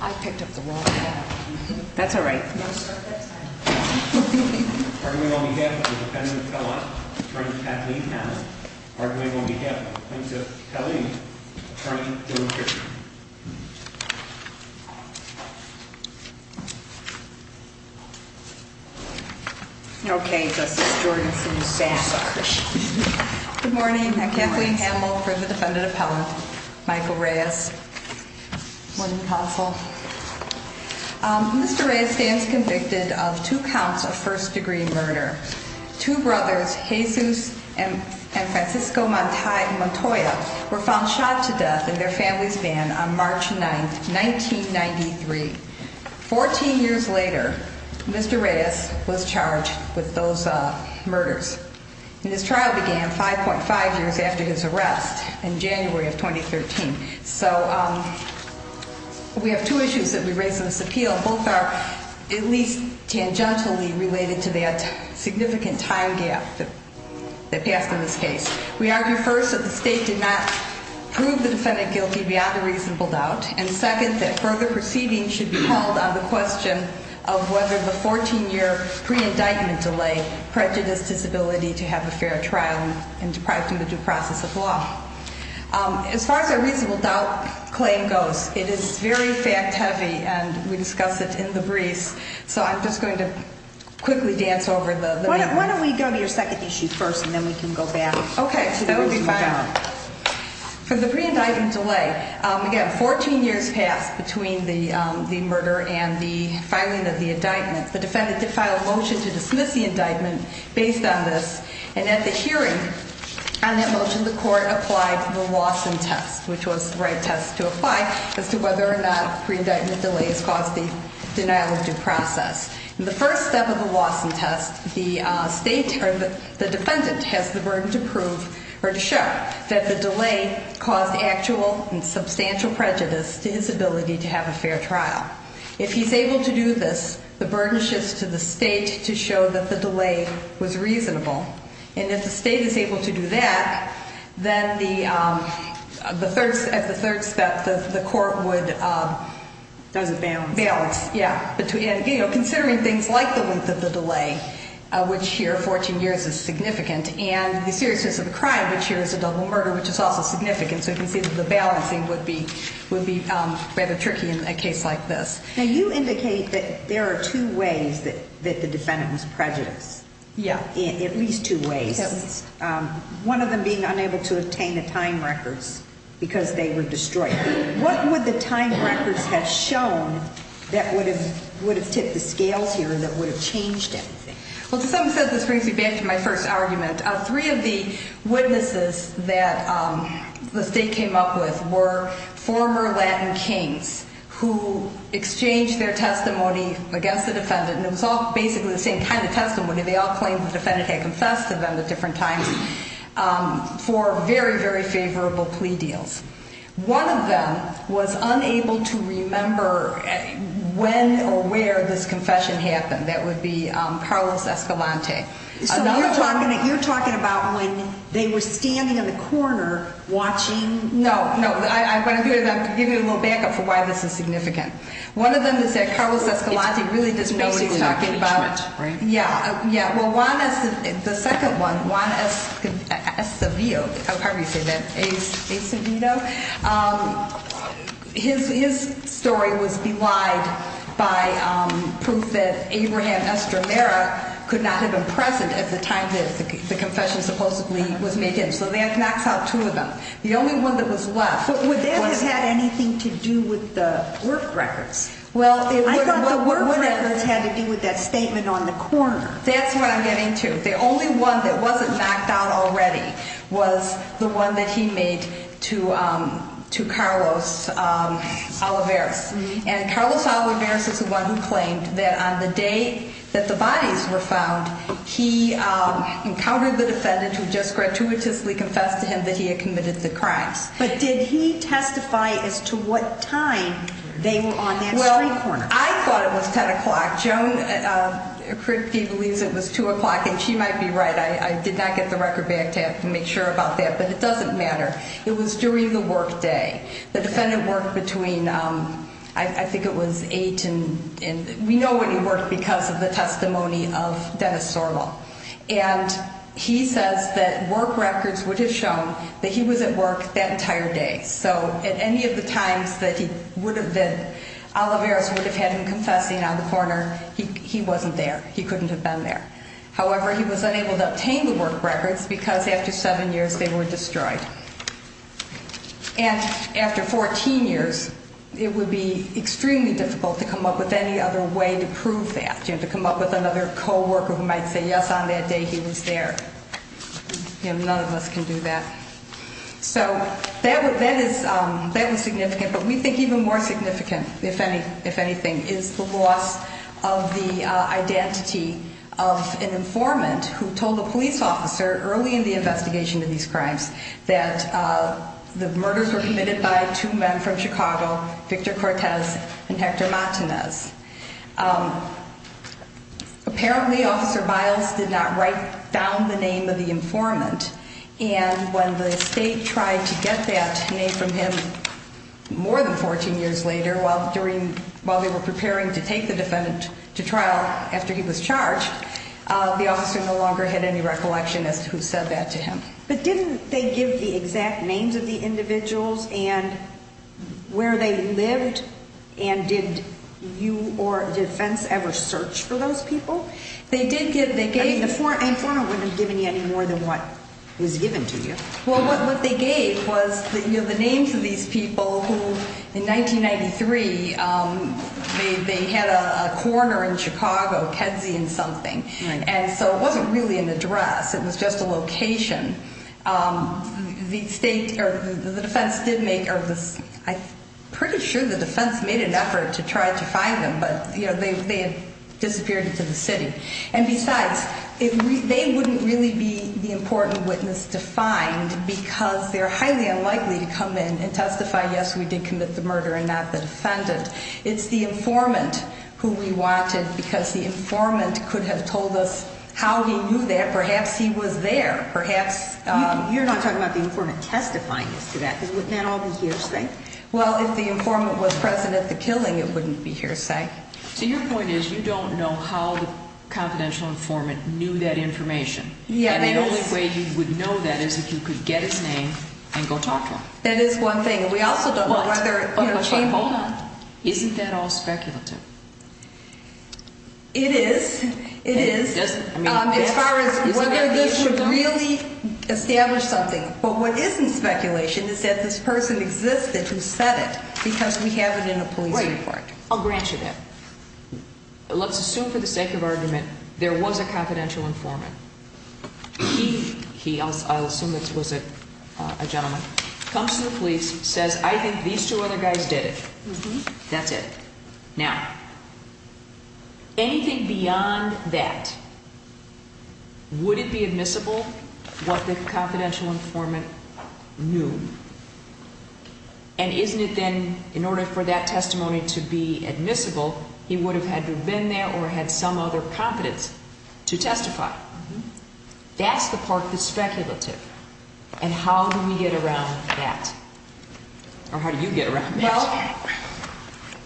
I picked up the wrong. That's all right. I'm Kathleen Hamel for the defendant appellant, Michael Reyes. Morning, counsel. Mr. Reyes stands convicted of two counts of first degree murder. Two brothers, Jesus and Francisco Montoya, were found shot to death in their family's van on March 9th, 1993. 14 years later, Mr. Reyes was charged with those murders. And this trial began 5.5 years after his arrest in January of 2013. So we have two issues that we raise in this appeal. Both are at least tangentially related to that significant time gap that passed in this case. We argue first that the state did not prove the defendant guilty beyond a reasonable doubt. And second, that further proceeding should be held on the question of whether the 14 year pre-indictment delay prejudiced his ability to have a fair trial and deprived him of due process of law. As far as a reasonable doubt claim goes, it is very fact heavy and we discuss it in the briefs. So I'm just going to quickly dance over the- Why don't we go to your second issue first and then we can go back. Okay, so that would be fine. For the pre-indictment delay, again, 14 years passed between the murder and the filing of the indictment, the defendant did file a motion to dismiss the indictment based on this. And at the hearing on that motion, the court applied the Lawson test, which was the right test to apply as to whether or not pre-indictment delays caused the denial of due process. In the first step of the Lawson test, the defendant has the burden to prove or to show that the delay caused actual and substantial prejudice to his ability to have a fair trial. If he's able to do this, the burden shifts to the state to show that the delay was reasonable. And if the state is able to do that, then at the third step, the court would- Does it balance? Balance, yeah. Considering things like the length of the delay, which here, 14 years, is significant. And the seriousness of the crime, which here is a double murder, which is also significant. So you can see that the balancing would be rather tricky in a case like this. Now, you indicate that there are two ways that the defendant was prejudiced. Yeah. In at least two ways, one of them being unable to obtain the time records because they were destroyed. What would the time records have shown that would have tipped the scales here, that would have changed anything? Well, to some extent, this brings me back to my first argument. Three of the witnesses that the state came up with were former Latin kings who exchanged their testimony against the defendant, and it was all basically the same kind of testimony. They all claimed the defendant had confessed to them at different times for very, very favorable plea deals. One of them was unable to remember when or where this confession happened. That would be Carlos Escalante. So you're talking about when they were standing in the corner watching? No, no, I'm going to give you a little backup for why this is significant. One of them is that Carlos Escalante really doesn't know what he's talking about. Yeah, yeah, well, Juan, the second one, Juan Escobedo, how do you say that, Escobedo? His story was belied by proof that Abraham Estramera could not have been present at the time that the confession supposedly was made him. So that knocks out two of them. The only one that was left- But would that have had anything to do with the work records? Well, it would- I thought the work records had to do with that statement on the corner. That's what I'm getting to. The only one that wasn't knocked out already was the one that he made to Carlos Olivares. And Carlos Olivares is the one who claimed that on the day that the bodies were found, he encountered the defendant who just gratuitously confessed to him that he had committed the crimes. But did he testify as to what time they were on that street corner? Well, I thought it was 10 o'clock. Joan Kripke believes it was 2 o'clock, and she might be right. I did not get the record back to make sure about that. But it doesn't matter. It was during the work day. The defendant worked between, I think it was 8. And we know when he worked because of the testimony of Dennis Sorvo. And he says that work records would have shown that he was at work that entire day. So at any of the times that he would have been, Olivares would have had him confessing on the corner, he wasn't there. He couldn't have been there. However, he was unable to obtain the work records because after seven years, they were destroyed. And after 14 years, it would be extremely difficult to come up with any other way to prove that, to come up with another co-worker who might say, yes, on that day, he was there. None of us can do that. So that was significant. But we think even more significant, if anything, is the loss of the identity of an informant who told a police officer early in the investigation of these crimes that the murders were committed by two men from Chicago, Victor Cortez and Hector Martinez. Apparently, Officer Miles did not write down the name of the informant. And when the state tried to get that name from him more than 14 years later, while they were preparing to take the defendant to trial after he was charged, the officer no longer had any recollection as to who said that to him. But didn't they give the exact names of the individuals and where they lived? And did you or defense ever search for those people? They did get, they gave- I mean, the informant wouldn't have given you any more than what was given to you. Well, what they gave was the names of these people who, in 1993, they had a coroner in Chicago, Kedzie and something. And so it wasn't really an address. It was just a location. The defense did make, or I'm pretty sure the defense made an effort to try to find them, but they had disappeared into the city. And besides, they wouldn't really be the important witness to find because they're highly unlikely to come in and testify, yes, we did commit the murder and not the defendant. It's the informant who we wanted because the informant could have told us how he knew that. Perhaps he was there, perhaps- You're not talking about the informant testifying as to that, because wouldn't that all be hearsay? Well, if the informant was present at the killing, it wouldn't be hearsay. So your point is, you don't know how the confidential informant knew that information. And the only way you would know that is if you could get his name and go talk to him. That is one thing. We also don't know whether- Hold on. Isn't that all speculative? It is. It is. As far as whether this would really establish something. But what isn't speculation is that this person existed who said it because we have it in a police report. I'll grant you that. Let's assume for the sake of argument, there was a confidential informant. He, I'll assume it was a gentleman, comes to the police, says, I think these two other guys did it. That's it. Now, anything beyond that, would it be admissible what the confidential informant knew? And isn't it then, in order for that testimony to be admissible, he would have had to have been there or had some other competence to testify? That's the part that's speculative. And how do we get around that? Or how do you get around that?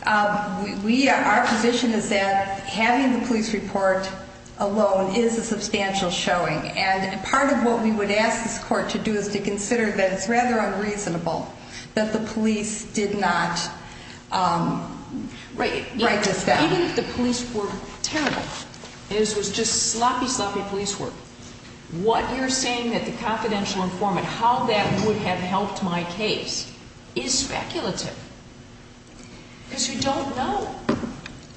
Well, our position is that having the police report alone is a substantial showing. And part of what we would ask this court to do is to consider that it's rather unreasonable that the police did not write this down. Even if the police were terrible, and this was just sloppy, sloppy police work, what you're saying that the confidential informant, how that would have helped my case is speculative. Because you don't know.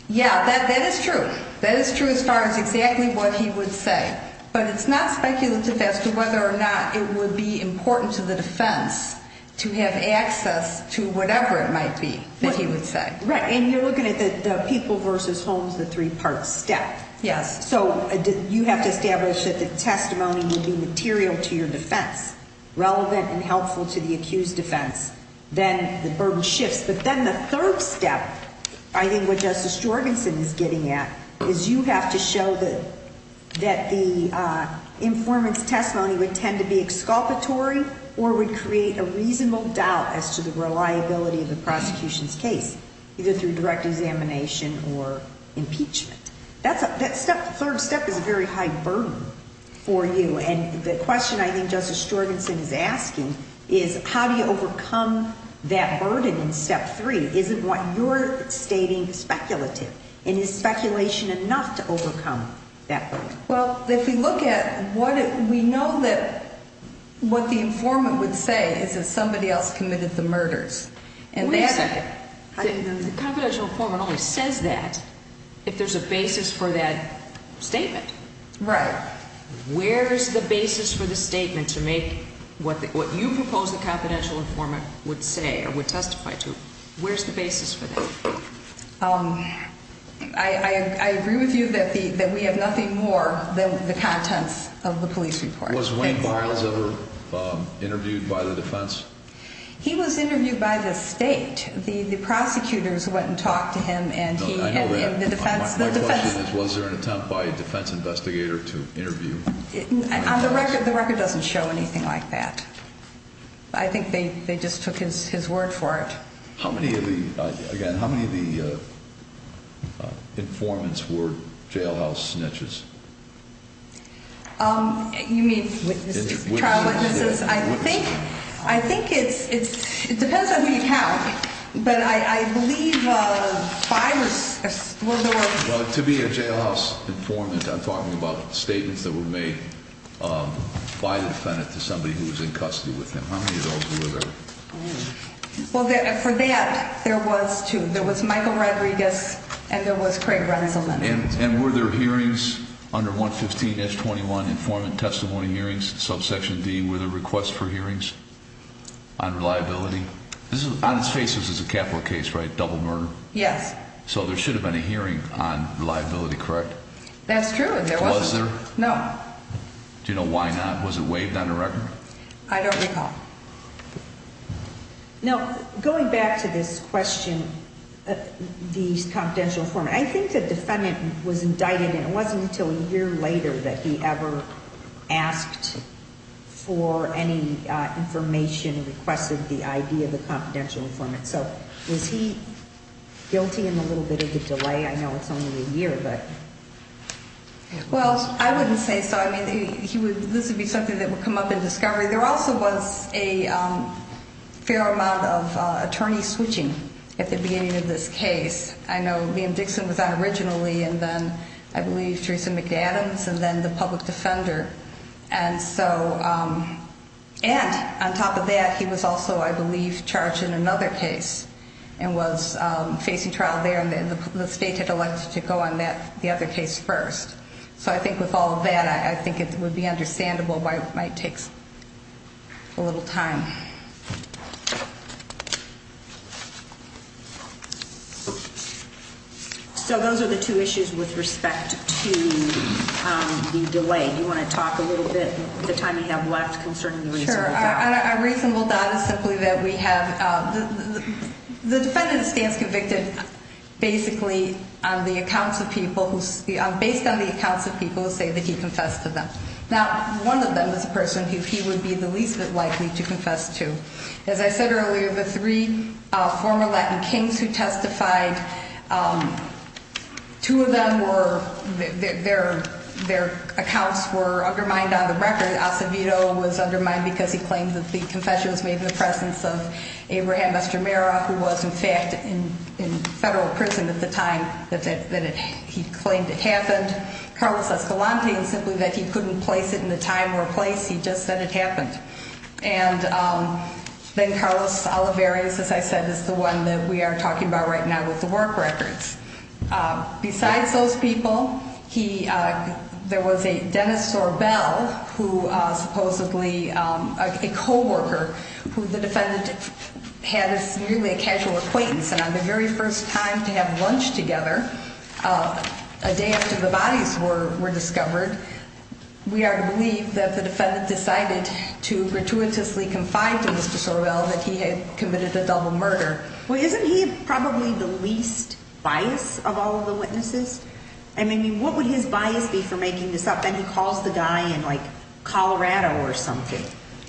Yeah, that is true. That is true as far as exactly what he would say. But it's not speculative as to whether or not it would be important to the defense to have access to whatever it might be that he would say. Right. And you're looking at the people versus homes, the three-part step. Yes. So you have to establish that the testimony would be material to your defense, relevant and helpful to the accused defense. Then the burden shifts. But then the third step, I think what Justice Jorgensen is getting at, is you have to show that the informant's testimony would tend to be exculpatory or would create a reasonable doubt as to the reliability of the prosecution's case, either through direct examination or impeachment. That third step is a very high burden for you. The question I think Justice Jorgensen is asking is how do you overcome that burden in step three? Isn't what you're stating speculative? And is speculation enough to overcome that burden? Well, if we look at what we know that what the informant would say is that somebody else committed the murders. The confidential informant always says that if there's a basis for that statement. Right. Where's the basis for the statement to make what you propose the confidential informant would say or would testify to? Where's the basis for that? I agree with you that we have nothing more than the contents of the police report. Was Wayne Miles ever interviewed by the defense? He was interviewed by the state. The prosecutors went and talked to him and he and the defense. Was there an attempt by a defense investigator to interview the record? The record doesn't show anything like that. I think they just took his word for it. How many of the again, how many of the informants were jailhouse snitches? You mean witnesses? I think I think it's it's it depends on who you count. But I believe five or six were there to be a jailhouse informant. I'm talking about statements that were made by the defendant to somebody who was in custody with him. How many of those were there? Well, for that, there was two. There was Michael Rodriguez and there was Craig Renzelman. And were there hearings under 115-21 informant testimony hearings? Subsection D with a request for hearings on reliability. This is on his face. This is a capital case, right? Double murder. Yes. So there should have been a hearing on reliability, correct? That's true. No. Do you know why not? Was it waived on the record? I don't recall. Now, going back to this question, these confidential form, I think the defendant was indicted. It wasn't until a year later that he ever asked for any information, requested the idea of a confidential informant. So was he guilty in a little bit of a delay? I know it's only a year, but. Well, I wouldn't say so. I mean, he would this would be something that would come up in discovery. There also was a fair amount of attorneys switching at the beginning of this case. I know Liam Dixon was on originally and then I believe Theresa McAdams and then the public defender. And so and on top of that, he was also, I believe, charged in another case and was facing trial there. And then the state had elected to go on that the other case first. So I think with all of that, I think it would be understandable why it might take a little time. So those are the two issues with respect to the delay. Do you want to talk a little bit? The time you have left concerning a reasonable doubt is simply that we have the defendant stands convicted basically on the accounts of people who are based on the accounts of people who say that he confessed to them. Now, one of them is a person who he would be the least likely to confess to. As I said earlier, the three former Latin kings who testified, two of them were there. Their accounts were undermined on the record. Acevedo was undermined because he claimed that the confession was made in the presence of Abraham Mastromera, who was in fact in federal prison at the time that he claimed it happened. Carlos Escalante, simply that he couldn't place it in the time or place. He just said it happened. And then Carlos Olivarez, as I said, is the one that we are talking about right now with the work records. Besides those people, he there was a dentist or bell who supposedly a coworker who the defendant had as nearly a casual acquaintance. And on the very first time to have lunch together, a day after the bodies were discovered, we believe that the defendant decided to gratuitously confide to Mr. Sorrell that he had committed a double murder. Well, isn't he probably the least bias of all of the witnesses? I mean, what would his bias be for making this up? Then he calls the guy in like Colorado or something.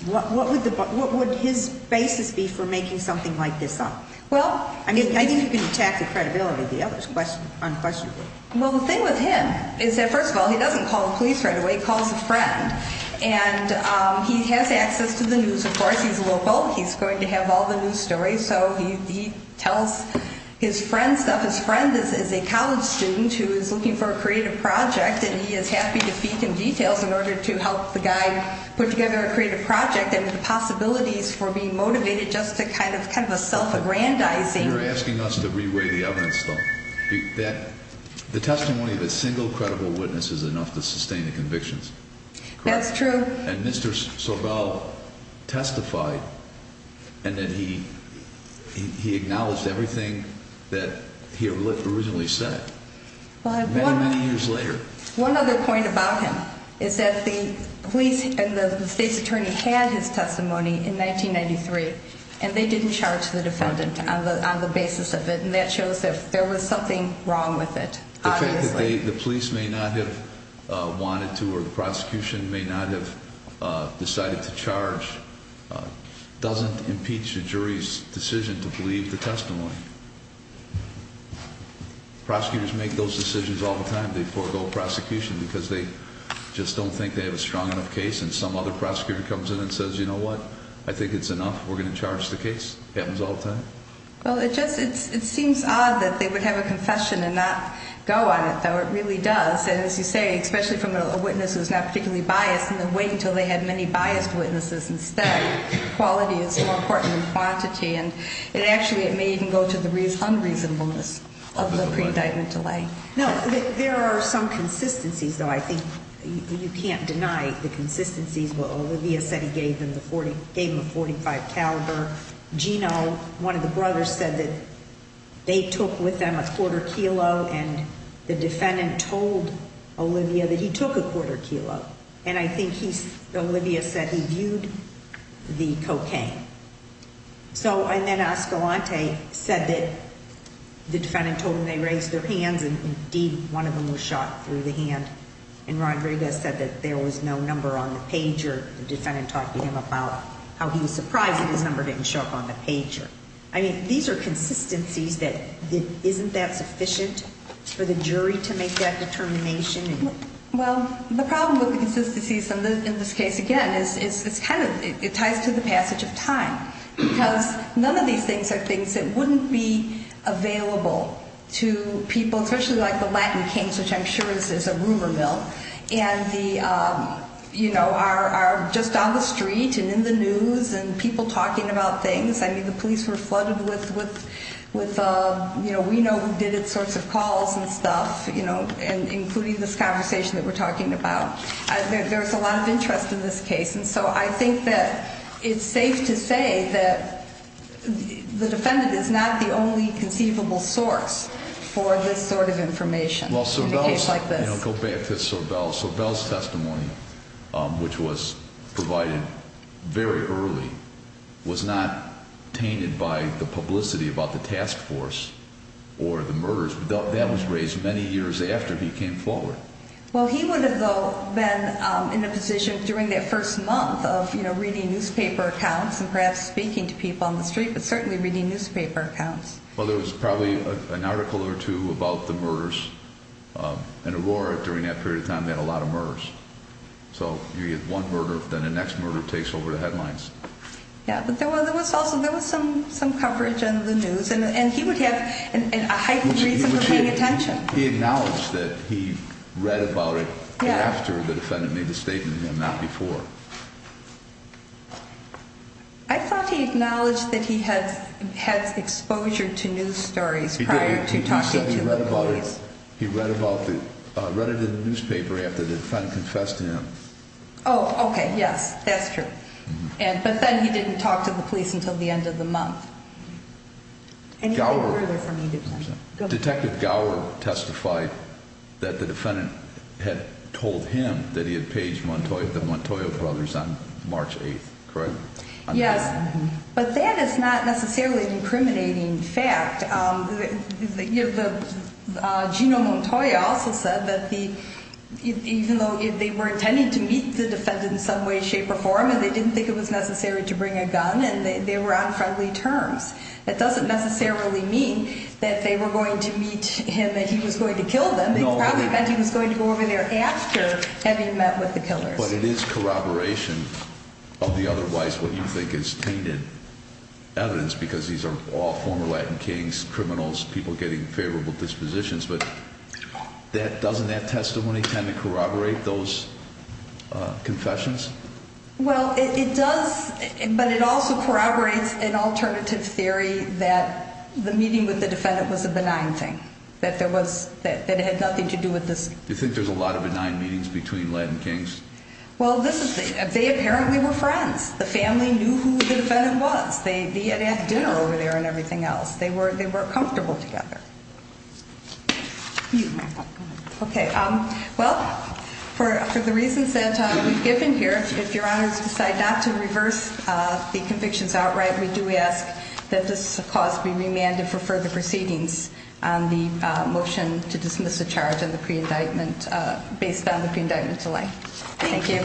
What would the what would his basis be for making something like this up? Well, I mean, I think you can attack the credibility of the others question unquestionably. Well, the thing with him is that first of all, he doesn't call the police right away, he calls a friend and he has access to the news. Of course, he's local. He's going to have all the news stories. So he tells his friends that his friend is a college student who is looking for a creative project and he is happy to feed him details in order to help the guy put together a creative project and the possibilities for being motivated just to kind of kind of a self aggrandizing. You're asking us to reweigh the evidence, though, that the testimony of a single credible witness is enough to sustain the convictions. That's true. And Mr. Sobel testified and then he he acknowledged everything that he originally said many, many years later. One other point about him is that the police and the state's attorney had his testimony in 1993 and they didn't charge the defendant on the basis of it. And that shows that there was something wrong with it. The police may not have wanted to or the prosecution may not have decided to charge. Doesn't impeach the jury's decision to believe the testimony. Prosecutors make those decisions all the time. They forego prosecution because they just don't think they have a strong enough case. And some other prosecutor comes in and says, you know what? I think it's enough. We're going to charge the case happens all the time. Well, it just it's it seems odd that they would have a confession and not go on it, though it really does. And as you say, especially from a witness who's not particularly biased and then wait until they had many biased witnesses instead. Quality is more important than quantity. And it actually it may even go to the unreasonableness of the pre-indictment delay. No, there are some consistencies, though. I think you can't deny the consistencies. Olivia said he gave them the 40 gave him a 45 caliber. Gino, one of the brothers, said that they took with them a quarter kilo. And the defendant told Olivia that he took a quarter kilo. And I think he's Olivia said he viewed the cocaine. So and then Ascalante said that the defendant told him they raised their hands. And indeed, one of them was shot through the hand. And Rodriguez said that there was no number on the pager. The defendant talked to him about how he was surprised that his number didn't show up on the pager. I mean, these are consistencies that isn't that sufficient for the jury to make that determination? Well, the problem with the consistencies in this case, again, is it's kind of it ties to the passage of time because none of these things are things that wouldn't be available to people, especially like the Latin kings, which I'm sure is a rumor mill. And the you know, are just on the street and in the news and people talking about things. I mean, the police were flooded with with with, you know, we know who did it, sorts of calls and stuff, you know, and including this conversation that we're talking about. There's a lot of interest in this case. And so I think that it's safe to say that the defendant is not the only conceivable source for this sort of information. Well, go back to Sorbel. Sorbel's testimony, which was provided very early, was not tainted by the publicity about the task force or the murders. That was raised many years after he came forward. Well, he would have, though, been in a position during that first month of, you know, reading newspaper accounts and perhaps speaking to people on the street, but certainly reading newspaper accounts. Well, there was probably an article or two about the murders in Aurora during that period of time. They had a lot of murders. So you get one murder, then the next murder takes over the headlines. Yeah, but there was also there was some some coverage in the news and he would have a heightened reason for paying attention. He acknowledged that he read about it after the defendant made a statement to him, not before. I thought he acknowledged that he had had exposure to news stories prior to talking to the police. He read about it, read it in the newspaper after the defendant confessed to him. Oh, OK. Yes, that's true. But then he didn't talk to the police until the end of the month. And you know, detective Gower testified that the defendant had told him that he had paged Montoya, the Montoya brothers on March 8th, correct? Yes, but that is not necessarily an incriminating fact. The Gino Montoya also said that the even though they were intending to meet the defendant in some way, shape or form, and they didn't think it was necessary to bring a gun and they were on friendly terms. That doesn't necessarily mean that they were going to meet him, that he was going to kill them and he was going to go over there after having met with the killer. But it is corroboration of the otherwise what you think is tainted evidence because these are all former Latin kings, criminals, people getting favorable dispositions. But that doesn't that testimony tend to corroborate those confessions? Well, it does, but it also corroborates an alternative theory that the meeting with the defendant was a benign thing, that there was that it had nothing to do with this. You think there's a lot of benign meetings between Latin kings? Well, this is they apparently were friends. The family knew who the defendant was. They had dinner over there and everything else. They were they were comfortable together. Okay, well, for the reasons that we've given here, if your honors decide not to reverse the convictions outright, we do ask that this cause be remanded for further proceedings on the motion to dismiss the charge on the pre-indictment based on the pre-indictment delay. Thank you.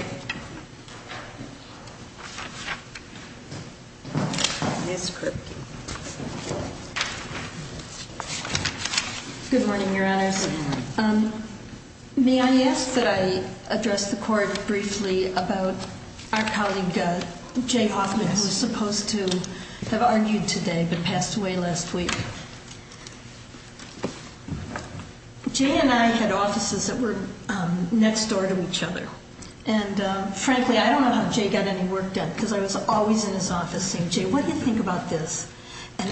Good morning, your honors. May I ask that I address the court briefly about our colleague, Jay Hoffman, who was supposed to have argued today but passed away last week. Jay and I had offices that were next door to each other, and frankly, I don't know how Jay got any work done because I was always in his office saying, Jay, what do you think about this? And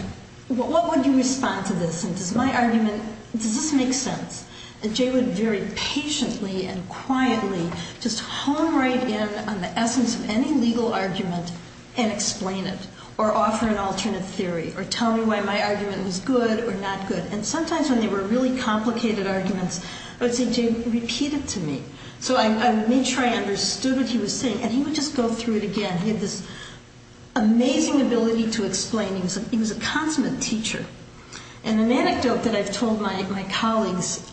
what would you respond to this? Does my argument, does this make sense? And Jay would very patiently and quietly just hone right in on the essence of any legal argument and explain it or offer an alternate theory or tell me why my argument was good or not good. And sometimes when they were really complicated arguments, I would say, Jay, repeat it to me. So I made sure I understood what he was saying, and he would just go through it again. He had this amazing ability to explain. He was a consummate teacher. And an anecdote that I've told my colleagues,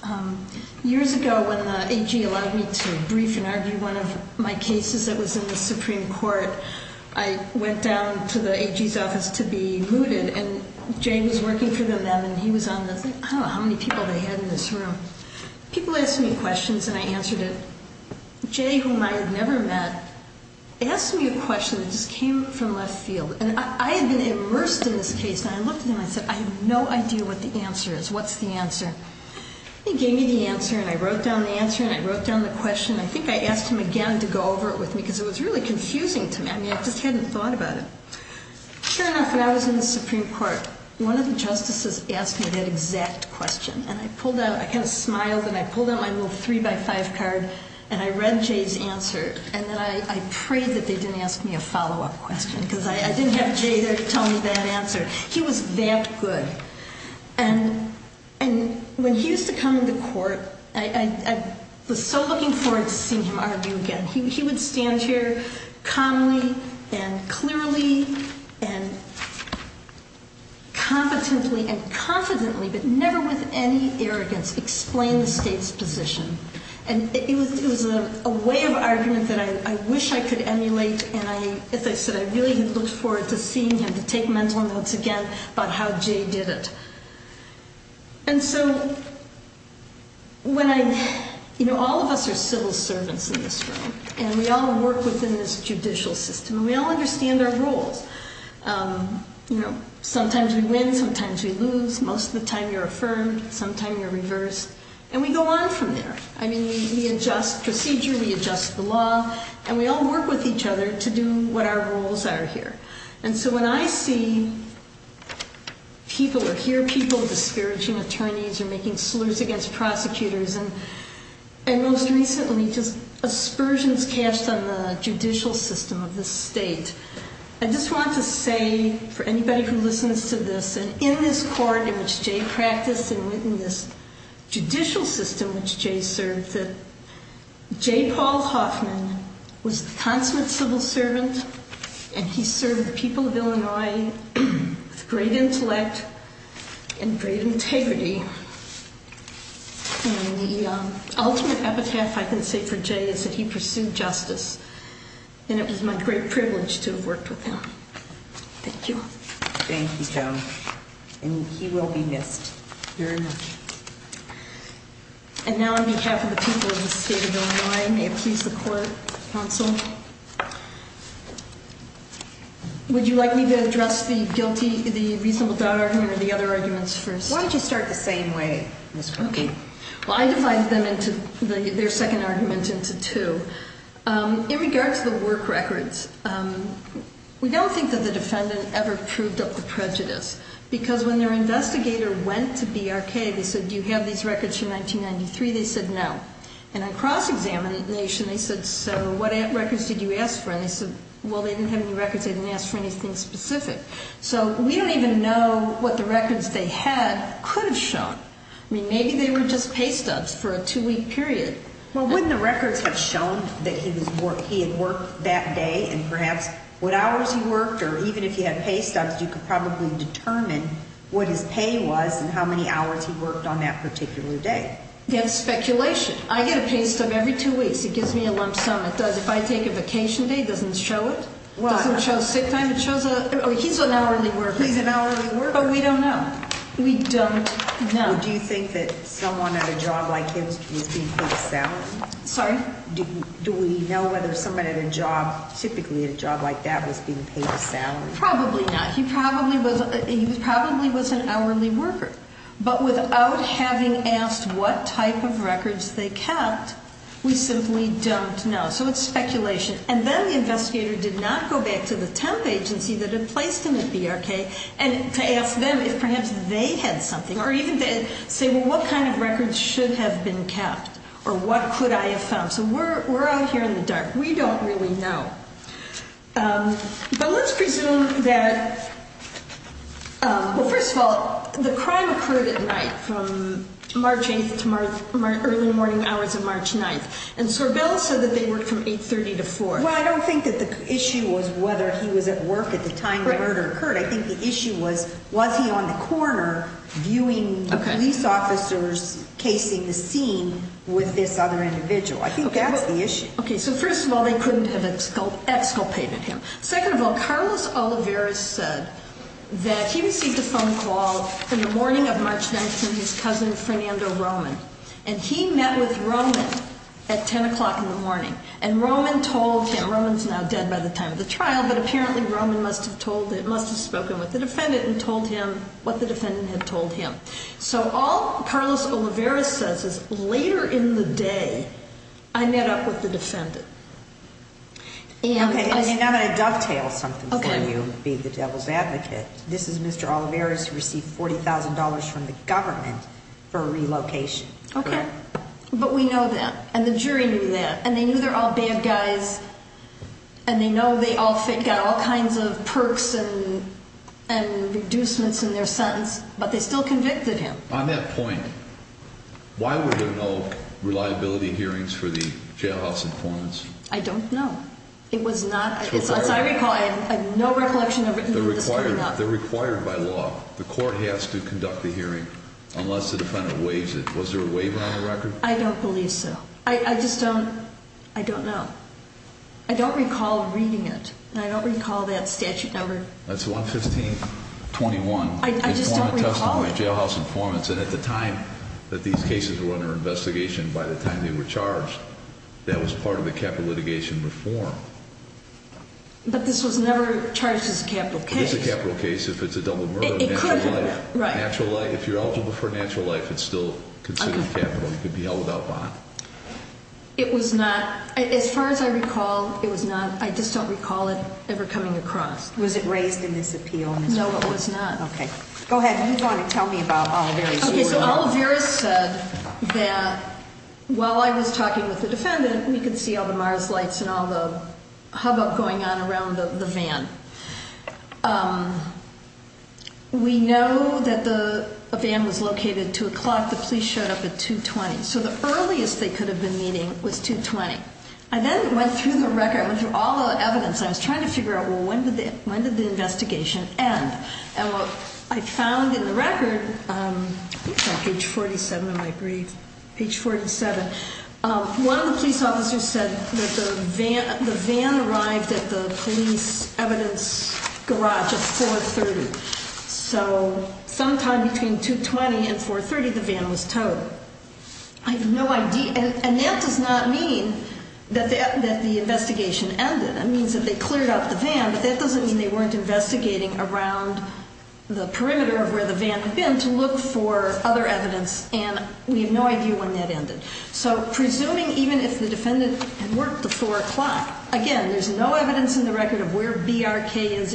years ago when the AG allowed me to brief and argue one of my cases that was in the Supreme Court, I went down to the AG's office to be mooted, and Jay was working for them then, and he was on the thing. I don't know how many people they had in this room. People asked me questions, and I answered it. Jay, whom I had never met, asked me a question that just came from left field. And I had been immersed in this case, and I looked at him, and I said, I have no idea what the answer is. What's the answer? He gave me the answer, and I wrote down the answer, and I wrote down the question. I think I asked him again to go over it with me because it was really confusing to me. I mean, I just hadn't thought about it. Sure enough, when I was in the Supreme Court, one of the justices asked me that exact question, and I pulled out, I kind of smiled, and I pulled out my little three-by-five card, and I read Jay's answer. And then I prayed that they didn't ask me a follow-up question because I didn't have Jay there to tell me that answer. He was that good. And when he used to come into court, I was so looking forward to seeing him argue again. He would stand here calmly and clearly and competently and confidently, but never with any arrogance, explain the state's position. And it was a way of argument that I wish I could emulate. And as I said, I really looked forward to seeing him to take mental notes again about how Jay did it. And so all of us are civil servants in this room, and we all work within this judicial system, and we all understand our roles. Sometimes we win, sometimes we lose. Sometimes you're reversed. And we go on from there. I mean, we adjust procedure, we adjust the law, and we all work with each other to do what our roles are here. And so when I see people or hear people disparaging attorneys or making slurs against prosecutors and most recently just aspersions cast on the judicial system of this state, I just want to say for anybody who listens to this, and in this court in which Jay practiced and in the judicial system which Jay served, that Jay Paul Hoffman was the consummate civil servant, and he served the people of Illinois with great intellect and great integrity. And the ultimate epitaph I can say for Jay is that he pursued justice, and it was my great privilege to have worked with him. Thank you. Thank you, Joan. And he will be missed very much. And now on behalf of the people of the state of Illinois, may it please the court, counsel, would you like me to address the guilty, the reasonable doubt argument, or the other arguments first? Why don't you start the same way, Ms. Crockett? Well, I divided their second argument into two. In regards to the work records, we don't think that the defendant ever proved up the prejudice, because when their investigator went to BRK, they said, do you have these records from 1993? They said no. And on cross-examination, they said, so what records did you ask for? And they said, well, they didn't have any records. They didn't ask for anything specific. So we don't even know what the records they had could have shown. I mean, maybe they were just pay stubs for a two-week period. Well, wouldn't the records have shown that he had worked that day, and perhaps what hours he worked, or even if he had pay stubs, you could probably determine what his pay was and how many hours he worked on that particular day. There's speculation. I get a pay stub every two weeks. It gives me a lump sum. It does. If I take a vacation day, it doesn't show it. It doesn't show sick time. It shows he's an hourly worker. He's an hourly worker. But we don't know. We don't know. Do you think that someone at a job like his was being paid a salary? Sorry? Do we know whether somebody at a job, typically at a job like that, was being paid a salary? Probably not. He probably was an hourly worker. But without having asked what type of records they kept, we simply don't know. So it's speculation. And then the investigator did not go back to the temp agency that had placed him at BRK to ask them if perhaps they had something, or even say, well, what kind of records should have been kept, or what could I have found? So we're out here in the dark. We don't really know. But let's presume that, well, first of all, the crime occurred at night from March 8th to early morning hours of March 9th. And Sorbella said that they worked from 8.30 to 4. Well, I don't think that the issue was whether he was at work at the time the murder occurred. I think the issue was, was he on the corner viewing police officers casing the scene with this other individual? I think that's the issue. So first of all, they couldn't have exculpated him. Second of all, Carlos Olivares said that he received a phone call in the morning of March 9th from his cousin, Fernando Roman. And he met with Roman at 10 o'clock in the morning. And Roman told him. Roman's now dead by the time of the trial. But apparently, Roman must have spoken with the defendant and told him what the defendant had told him. So all Carlos Olivares says is, later in the day, I met up with the defendant. And I'm going to dovetail something for you, being the devil's advocate. This is Mr. Olivares who received $40,000 from the government for relocation. OK. But we know that. And the jury knew that. And they knew they're all bad guys. And they know they all got all kinds of perks and reducements in their sentence. But they still convicted him. On that point, why were there no reliability hearings for the jailhouse informants? I don't know. It was not, as I recall, I have no recollection of it. They're required by law. The court has to conduct the hearing unless the defendant waives it. Was there a waiver on the record? I don't believe so. I just don't, I don't know. I don't recall reading it. And I don't recall that statute number. That's 115-21. I just don't recall it. Jailhouse informants. And at the time that these cases were under investigation, by the time they were charged, that was part of the capital litigation reform. But this was never charged as a capital case. It is a capital case if it's a double murder of natural life. Right. Natural life. If you're eligible for natural life, it's still considered capital. You could be held without bond. It was not, as far as I recall, it was not. I just don't recall it ever coming across. Was it raised in this appeal? No, it was not. Go ahead. If you want to tell me about Olivares. Okay, so Olivares said that while I was talking with the defendant, we could see all the Mars lights and all the hubbub going on around the van. We know that the van was located at 2 o'clock. The police showed up at 2.20. So the earliest they could have been meeting was 2.20. I then went through the record, went through all the evidence. I was trying to figure out, well, when did the investigation end? And what I found in the record, I think it's on page 47 of my brief, page 47. One of the police officers said that the van arrived at the police evidence garage at 4.30. So sometime between 2.20 and 4.30, the van was towed. I have no idea. And that does not mean that the investigation ended. That means that they cleared out the van. But that doesn't mean they weren't investigating around the perimeter of where the van had been to look for other evidence. And we have no idea when that ended. So presuming even if the defendant had worked at 4 o'clock, again, there's no evidence in the record of where BRK is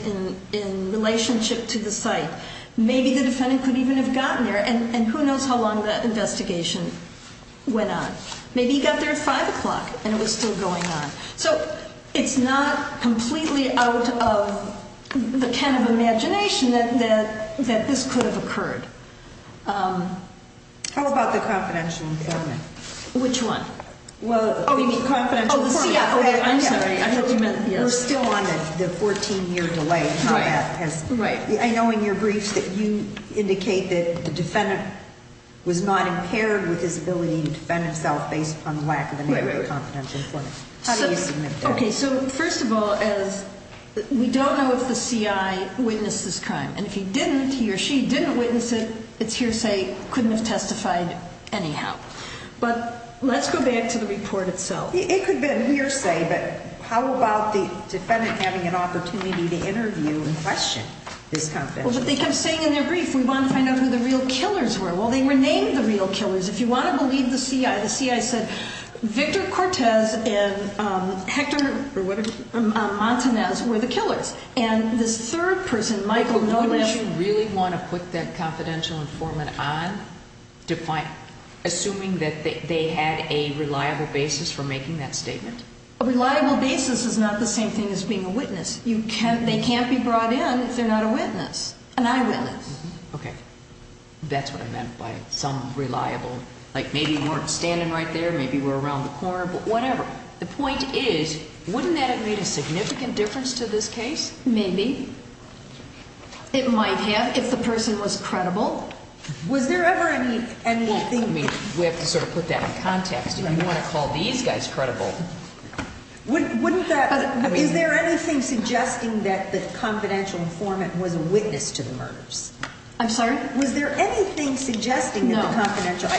in relationship to the site. Maybe the defendant could even have gotten there. And who knows how long that investigation went on. Maybe he got there at 5 o'clock and it was still going on. So it's not completely out of the kind of imagination that this could have occurred. How about the confidential informant? Which one? Oh, you mean confidential informant. Oh, yeah. I'm sorry. I thought you meant here. We're still on the 14-year delay. I know in your briefs that you indicate that the defendant was not impaired with his ability to defend himself based upon the lack of a confidential informant. How do you submit that? OK. So first of all, we don't know if the CI witnessed this crime. And if he didn't, he or she didn't witness it, it's hearsay. Couldn't have testified anyhow. But let's go back to the report itself. It could be a hearsay. But how about the defendant having an opportunity to interview and question this confidential? But they kept saying in their brief, we want to find out who the real killers were. Well, they renamed the real killers. If you want to believe the CI, the CI said Victor Cortez and Hector Montanez were the killers. And this third person, Michael, no less. But wouldn't you really want to put that confidential informant on, assuming that they had a reliable basis for making that statement? A reliable basis is not the same thing as being a witness. They can't be brought in if they're not a witness, an eyewitness. Okay. That's what I meant by some reliable. Like, maybe we weren't standing right there. Maybe we're around the corner. But whatever. The point is, wouldn't that have made a significant difference to this case? Maybe. It might have if the person was credible. Was there ever any, anything? I mean, we have to sort of put that in context. If you want to call these guys credible. Wouldn't that, is there anything suggesting that the confidential informant was a witness to the murders? I'm sorry? Was there anything suggesting that the confidential? No.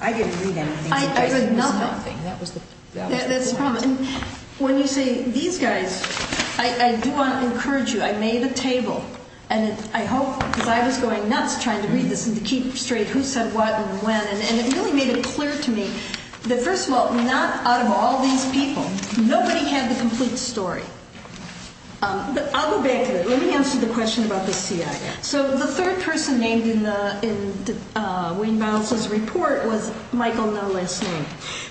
I didn't read anything. I read nothing. That was the point. That's the problem. When you say these guys, I do want to encourage you. I made the table. And I hope, because I was going nuts trying to read this and to keep straight who said what and when. And it really made it clear to me that, first of all, not out of all these people, nobody had the complete story. But I'll go back to that. Let me answer the question about the CIA. So the third person named in the, in Wayne Biles's report was Michael No Last Name.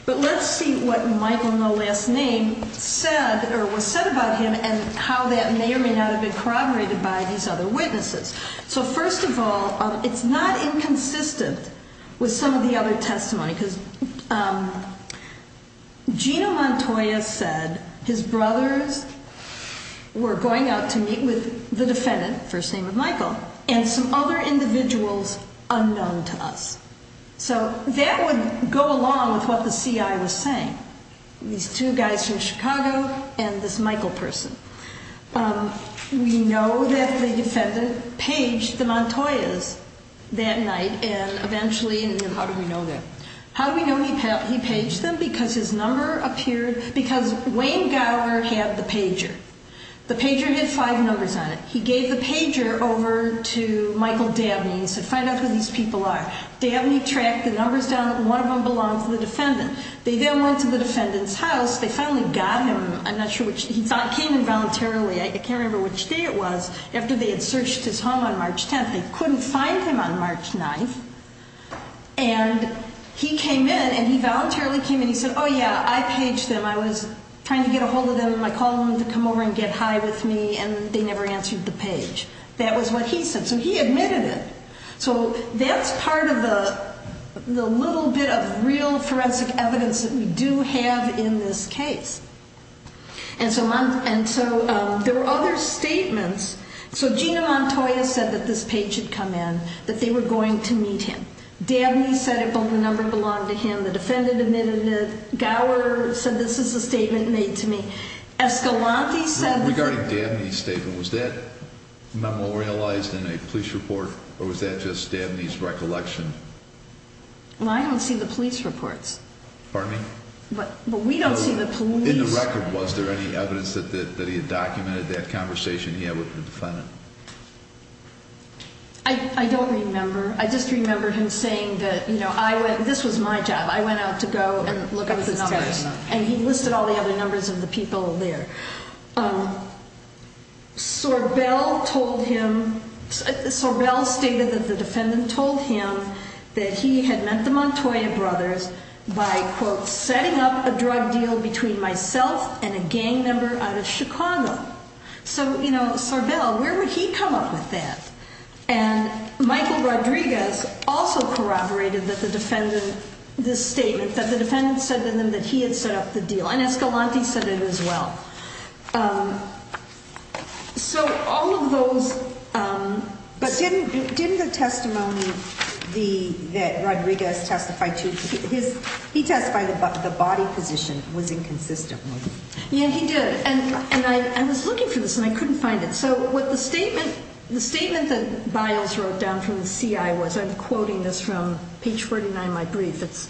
But let's see what Michael No Last Name said or was said about him and how that may or may not have been corroborated by these other witnesses. So first of all, it's not inconsistent with some of the other testimony. Because Gino Montoya said his brothers were going out to meet with the defendant, first of all, and some other individuals unknown to us. So that would go along with what the CIA was saying. These two guys from Chicago and this Michael person. We know that the defendant paged the Montoyas that night. And eventually, and how do we know that? How do we know he paged them? Because his number appeared, because Wayne Gower had the pager. The pager had five numbers on it. He gave the pager over to Michael Dabney. He said, find out who these people are. Dabney tracked the numbers down. One of them belonged to the defendant. They then went to the defendant's house. They finally got him. I'm not sure which. He came in voluntarily. I can't remember which day it was. After they had searched his home on March 10th, they couldn't find him on March 9th. And he came in and he voluntarily came in. He said, oh yeah, I paged them. I was trying to get a hold of them. I called them to come over and get high with me, and they never answered the page. That was what he said. So he admitted it. So that's part of the little bit of real forensic evidence that we do have in this case. And so there were other statements. So Gina Montoya said that this page had come in, that they were going to meet him. Dabney said the number belonged to him. The defendant admitted it. Gower said this is a statement made to me. Escalante said- Regarding Dabney's statement, was that memorialized in a police report, or was that just Dabney's recollection? Well, I don't see the police reports. Pardon me? But we don't see the police- In the record, was there any evidence that he had documented that conversation he had with the defendant? I don't remember. I just remember him saying that, you know, this was my job. I went out to go and look at the numbers. And he listed all the other numbers of the people there. Sorbel told him, Sorbel stated that the defendant told him that he had met the Montoya brothers by, quote, setting up a drug deal between myself and a gang member out of Chicago. So, you know, Sorbel, where would he come up with that? And Michael Rodriguez also corroborated that the defendant, this statement, that the defendant said to them that he had set up the deal. And Escalante said it as well. So all of those- But didn't the testimony that Rodriguez testified to, he testified that the body position was inconsistent with- Yeah, he did. And I was looking for this and I couldn't find it. So what the statement, the statement that Biles wrote down from the CI was, I'm quoting this from page 49 of my brief. It's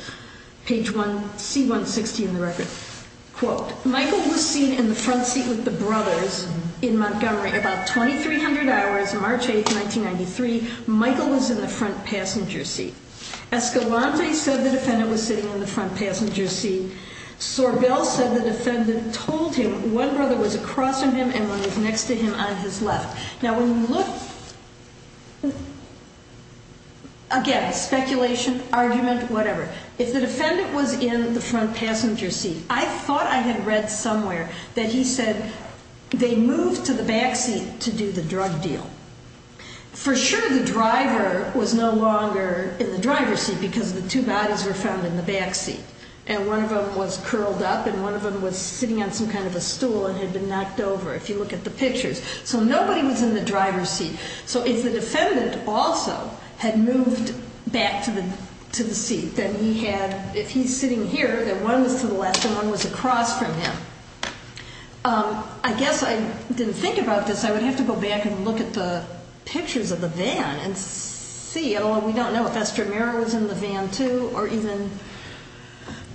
page 160 in the record. Quote, Michael was seen in the front seat with the brothers in Montgomery about 2300 hours, March 8th, 1993. Michael was in the front passenger seat. Escalante said the defendant was sitting in the front passenger seat. Sorbel said the defendant told him one brother was across from him and one was next to him on his left. Now, when you look- Again, speculation, argument, whatever. If the defendant was in the front passenger seat, I thought I had read somewhere that he said they moved to the back seat to do the drug deal. For sure, the driver was no longer in the driver's seat because the two bodies were found in the back seat. And one of them was curled up and one of them was sitting on some kind of a stool and had been knocked over, if you look at the pictures. So nobody was in the driver's seat. So if the defendant also had moved back to the seat, then he had- If he's sitting here, then one was to the left and one was across from him. I guess I didn't think about this. I would have to go back and look at the pictures of the van and see. We don't know if Estramera was in the van, too, or even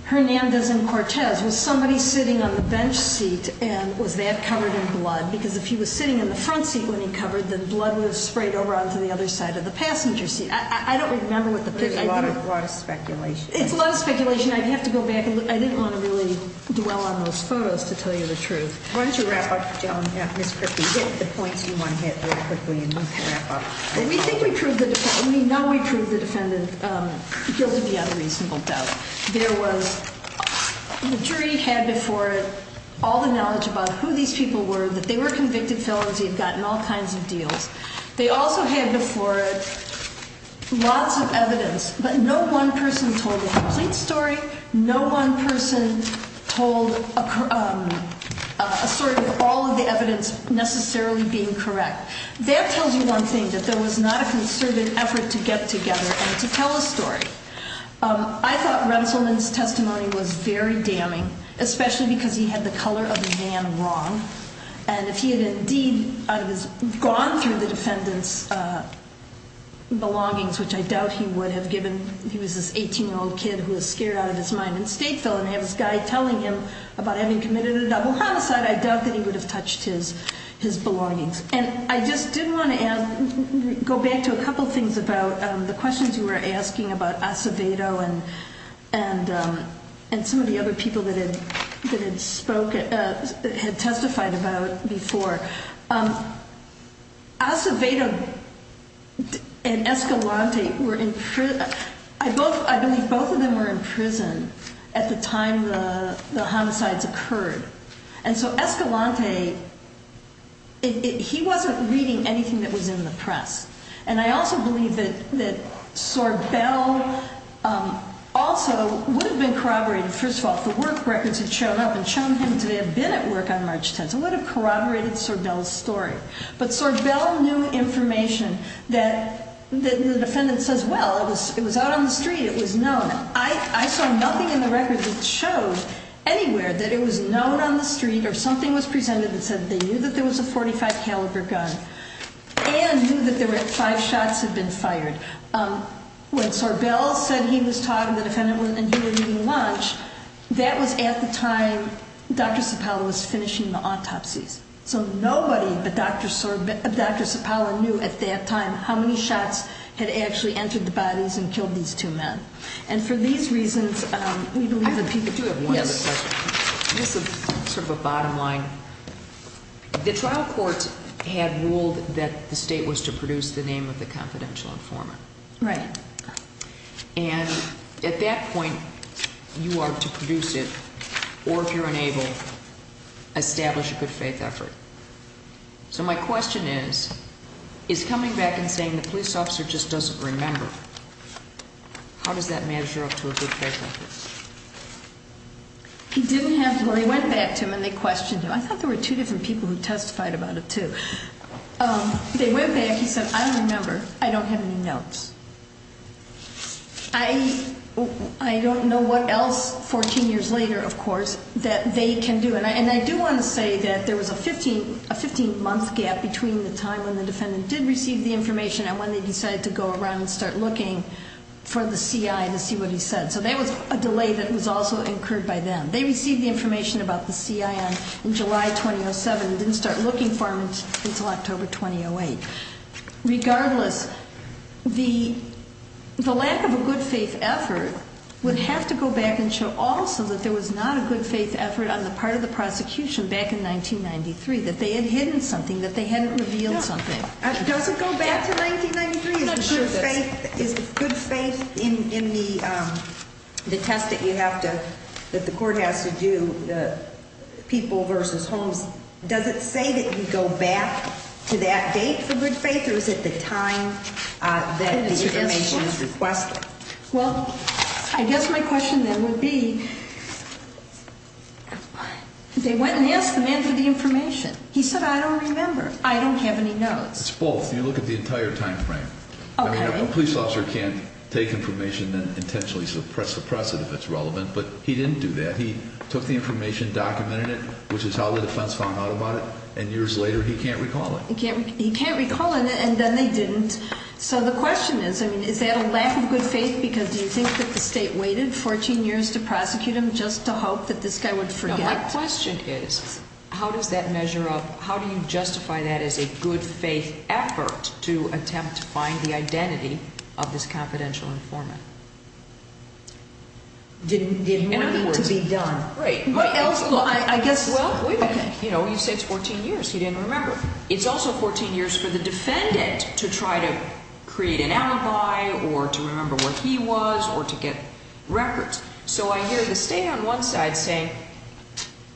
Hernandez and Cortez. Was somebody sitting on the bench seat and was that covered in blood? Because if he was sitting in the front seat when he covered, then blood would have sprayed over onto the other side of the passenger seat. I don't remember what the picture- There's a lot of speculation. It's a lot of speculation. I'd have to go back and look. I didn't want to really dwell on those photos to tell you the truth. Why don't you wrap up, Joan, Ms. Kripke? Hit the points you want to hit real quickly and wrap up. We think we proved the- We know we proved the defendant guilty without a reasonable doubt. There was- The jury had before it all the knowledge about who these people were, that they were convicted felons, they had gotten all kinds of deals. They also had before it lots of evidence, but no one person told a complete story. No one person told a story with all of the evidence necessarily being correct. That tells you one thing, that there was not a concerted effort to get together and to tell a story. I thought Rensselaer's testimony was very damning, especially because he had the color of the van wrong. And if he had indeed gone through the defendant's belongings, which I doubt he would have given. He was this 18-year-old kid who was scared out of his mind and state felon. I have this guy telling him about having committed a double homicide. I doubt that he would have touched his belongings. And I just did want to go back to a couple things about the questions you were asking about Acevedo and some of the other people that had testified about before. Acevedo and Escalante were in- I believe both of them were in prison at the time the homicides occurred. And so Escalante, he wasn't reading anything that was in the press. And I also believe that Sorbel also would have been corroborated. First of all, if the work records had shown up and shown him to have been at work on March 10th, it would have corroborated Sorbel's story. But Sorbel knew information that the defendant says, well, it was out on the street, it was known. I saw nothing in the records that showed anywhere that it was known on the street or something was presented that said they knew that there was a .45 caliber gun and knew that there five shots had been fired. When Sorbel said he was talking to the defendant and he was eating lunch, that was at the time Dr. Cipolla was finishing the autopsies. So nobody but Dr. Cipolla knew at that time how many shots had actually entered the bodies and killed these two men. And for these reasons, we believe that people- I do have one other question. This is sort of a bottom line. The trial court had ruled that the state was to produce the name of the confidential informant. Right. And at that point, you are to produce it, or if you're unable, establish a good faith effort. So my question is, is coming back and saying the police officer just doesn't remember, how does that measure up to a good faith effort? He didn't have to- well, he went back to them and they questioned him. I thought there were two different people who testified about it, too. They went back. He said, I don't remember. I don't have any notes. I don't know what else, 14 years later, of course, that they can do. And I do want to say that there was a 15-month gap between the time when the defendant did receive the information and when they decided to go around and start looking for the CI to see what he said. So there was a delay that was also incurred by them. They received the information about the CI in July 2007 and didn't start looking for him until October 2008. Regardless, the lack of a good faith effort would have to go back and show also that there was not a good faith effort on the part of the prosecution back in 1993, that they had hidden something, that they hadn't revealed something. Does it go back to 1993? Is the good faith in the test that you have to, that the court has to do, the people versus Holmes, does it say that you go back to that date for good faith or is it the time that the information is requested? Well, I guess my question then would be, they went and asked the man for the information. He said, I don't remember. I don't have any notes. It's both. You look at the entire time frame. I mean, a police officer can't take information and intentionally suppress it if it's relevant, but he didn't do that. He took the information, documented it, which is how the defense found out about it, and years later he can't recall it. He can't recall it and then they didn't. So the question is, I mean, is that a lack of good faith? Because do you think that the state waited 14 years to prosecute him just to hope that this guy would forget? My question is, how does that measure up? How do you justify that as a good faith effort to attempt to find the identity of this confidential informant? Did more need to be done? Right. What else? I guess, well, you know, you say it's 14 years. He didn't remember. It's also 14 years for the defendant to try to create an alibi or to remember where he was or to get records. So I hear the state on one side saying,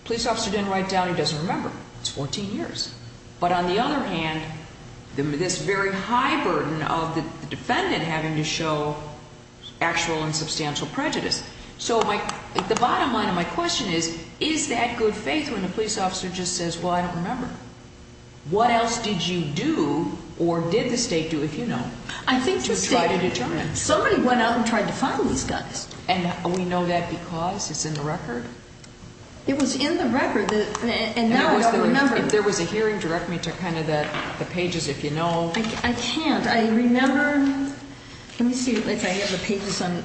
police officer didn't write down, he doesn't remember. It's 14 years. But on the other hand, this very high burden of the defendant having to show actual and substantial prejudice. So the bottom line of my question is, is that good faith when the police officer just says, well, I don't remember? What else did you do or did the state do, if you know, to try to determine? Somebody went out and tried to find these guys. And we know that because it's in the record? It was in the record, and now I don't remember. If there was a hearing, direct me to kind of the pages, if you know. I can't. I remember, let me see if I have the pages on.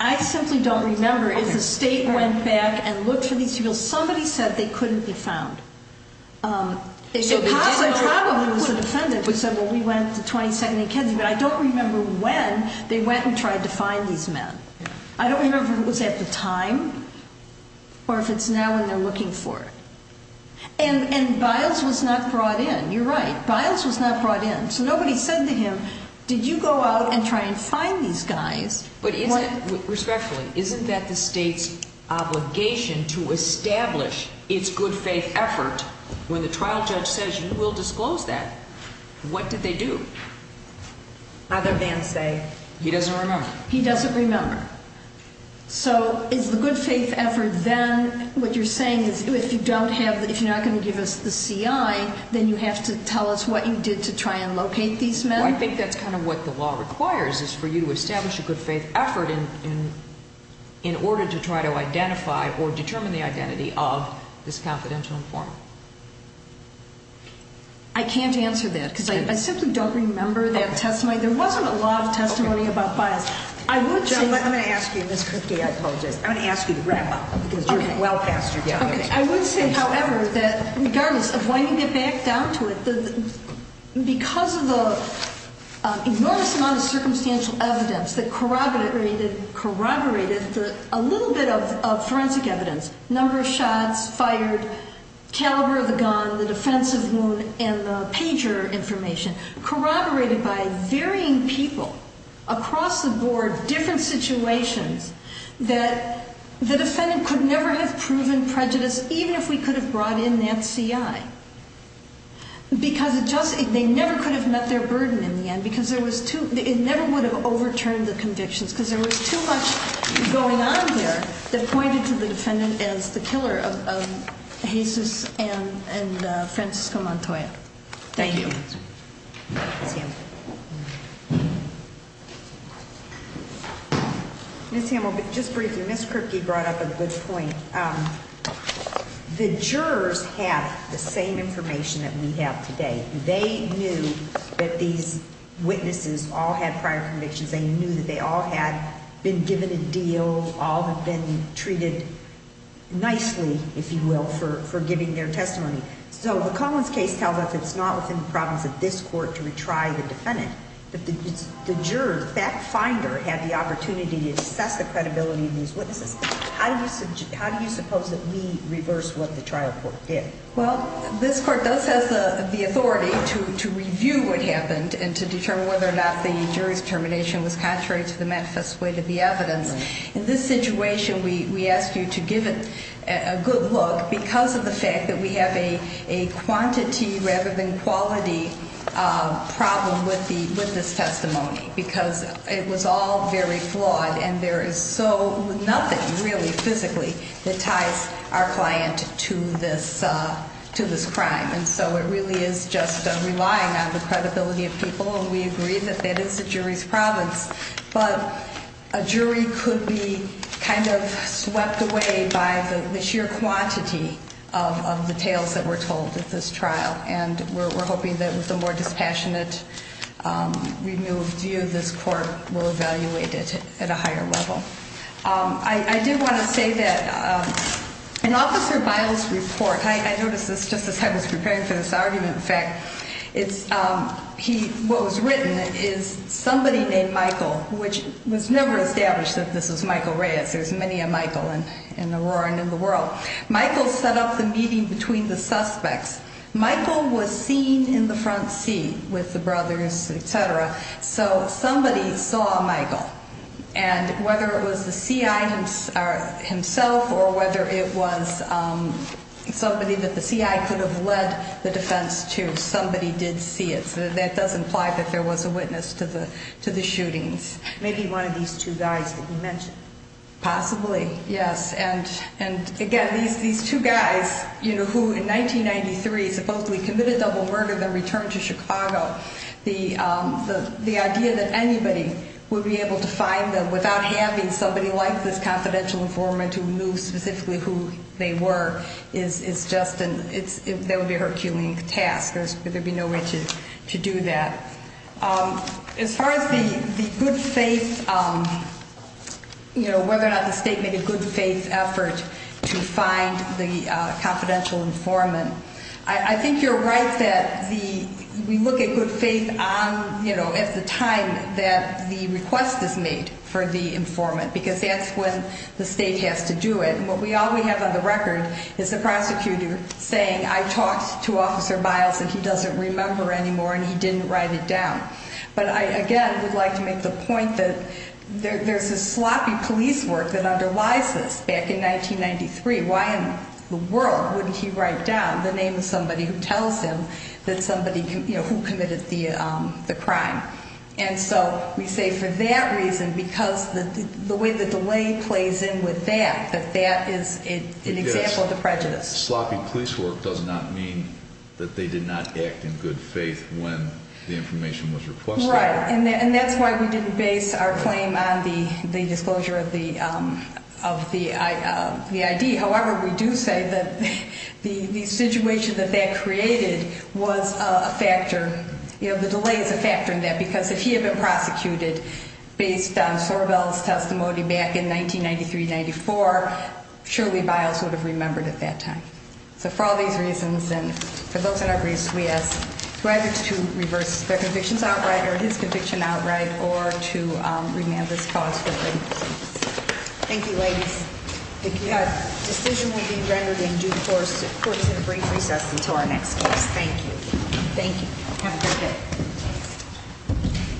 I simply don't remember if the state went back and looked for these people. Somebody said they couldn't be found. Um, so probably it was the defendant who said, well, we went to 22nd and Kedzie, but I don't remember when they went and tried to find these men. I don't remember if it was at the time or if it's now and they're looking for it. And, and Biles was not brought in. You're right. Biles was not brought in. So nobody said to him, did you go out and try and find these guys? Respectfully, isn't that the state's obligation to establish its good faith effort? When the trial judge says you will disclose that. What did they do? Other than say, he doesn't remember. He doesn't remember. So is the good faith effort, then what you're saying is if you don't have, if you're not going to give us the CI, then you have to tell us what you did to try and locate these men. I think that's kind of what the law requires is for you to establish a good faith effort in order to try to identify or determine the identity of this confidential informant. I can't answer that because I simply don't remember that testimony. There wasn't a lot of testimony about Biles. I would say, I'm going to ask you this quickly. I apologize. I'm going to ask you to wrap up because you're well past your time. I would say, however, that regardless of when you get back down to it, because of the enormous amount of circumstantial evidence that corroborated a little bit of forensic evidence, number of shots fired, caliber of the gun, the defensive wound, and the pager information corroborated by varying people across the board, different situations that the defendant could never have proven prejudice, even if we could have brought in that CI. Because they never could have met their burden in the end. Because it never would have overturned the convictions. Because there was too much going on there that pointed to the defendant as the killer of Jesus and Francisco Montoya. Thank you. Ms. Hamill, just briefly, Ms. Kripke brought up a good point. The jurors have the same information that we have today. They knew that these witnesses all had prior convictions. They knew that they all had been given a deal, all have been treated nicely, if you will, for giving their testimony. So the Collins case tells us it's not within the problems of this court to retry the defendant. But the jurors, that finder had the opportunity to assess the credibility of these witnesses. How do you suppose that we reverse what the trial court did? Well, this court does have the authority to review what happened and to determine whether or not the jury's determination was contrary to the manifest weight of the evidence. In this situation, we ask you to give it a good look because of the fact that we have a quantity rather than quality problem with this testimony. Because it was all very flawed and there is so nothing really, physically, that ties our client to this crime. And so it really is just relying on the credibility of people. And we agree that that is the jury's province. But a jury could be kind of swept away by the sheer quantity of the tales that were told at this trial. And we're hoping that with a more dispassionate review, this court will evaluate it at a higher level. I did want to say that in Officer Biles' report, I noticed this just as I was preparing for this argument. In fact, what was written is somebody named Michael, which was never established that this was Michael Reyes. There's many a Michael in the world. Michael set up the meeting between the suspects. Michael was seen in the front seat with the brothers, etc. So somebody saw Michael. And whether it was the CI himself or whether it was somebody that the CI could have led the defense to, somebody did see it. So that does imply that there was a witness to the shootings. Maybe one of these two guys that you mentioned. Possibly, yes. And again, these two guys who in 1993 supposedly committed double murder, then returned to Chicago. The idea that anybody would be able to find them without having somebody like this confidential informant who knew specifically who they were, that would be a Herculean task. There'd be no way to do that. As far as the good faith, whether or not the state made a good faith effort to find the confidential informant, I think you're right that we look at good faith at the time that the request is made for the informant, because that's when the state has to do it. And what we always have on the record is the prosecutor saying, I talked to Officer Biles and he doesn't remember anymore and he didn't write it down. But I, again, would like to make the point that there's this sloppy police work that underlies this. Back in 1993, why in the world wouldn't he write down the name of somebody who tells him that somebody who committed the crime? And so we say for that reason, because the way the delay plays in with that, that that is an example of the prejudice. Sloppy police work does not mean that they did not act in good faith when the information was requested. Right. And that's why we didn't base our claim on the disclosure of the ID. However, we do say that the situation that that created was a factor. The delay is a factor in that, because if he had been prosecuted based on Soribel's testimony back in 1993-94, surely Biles would have remembered at that time. So for all these reasons, and for those in our briefs, we ask to either to reverse their convictions outright or his conviction outright, or to remand this clause for good. Thank you, ladies. The decision will be rendered in due course in a brief recess until our next case. Thank you. Thank you. Have a great day.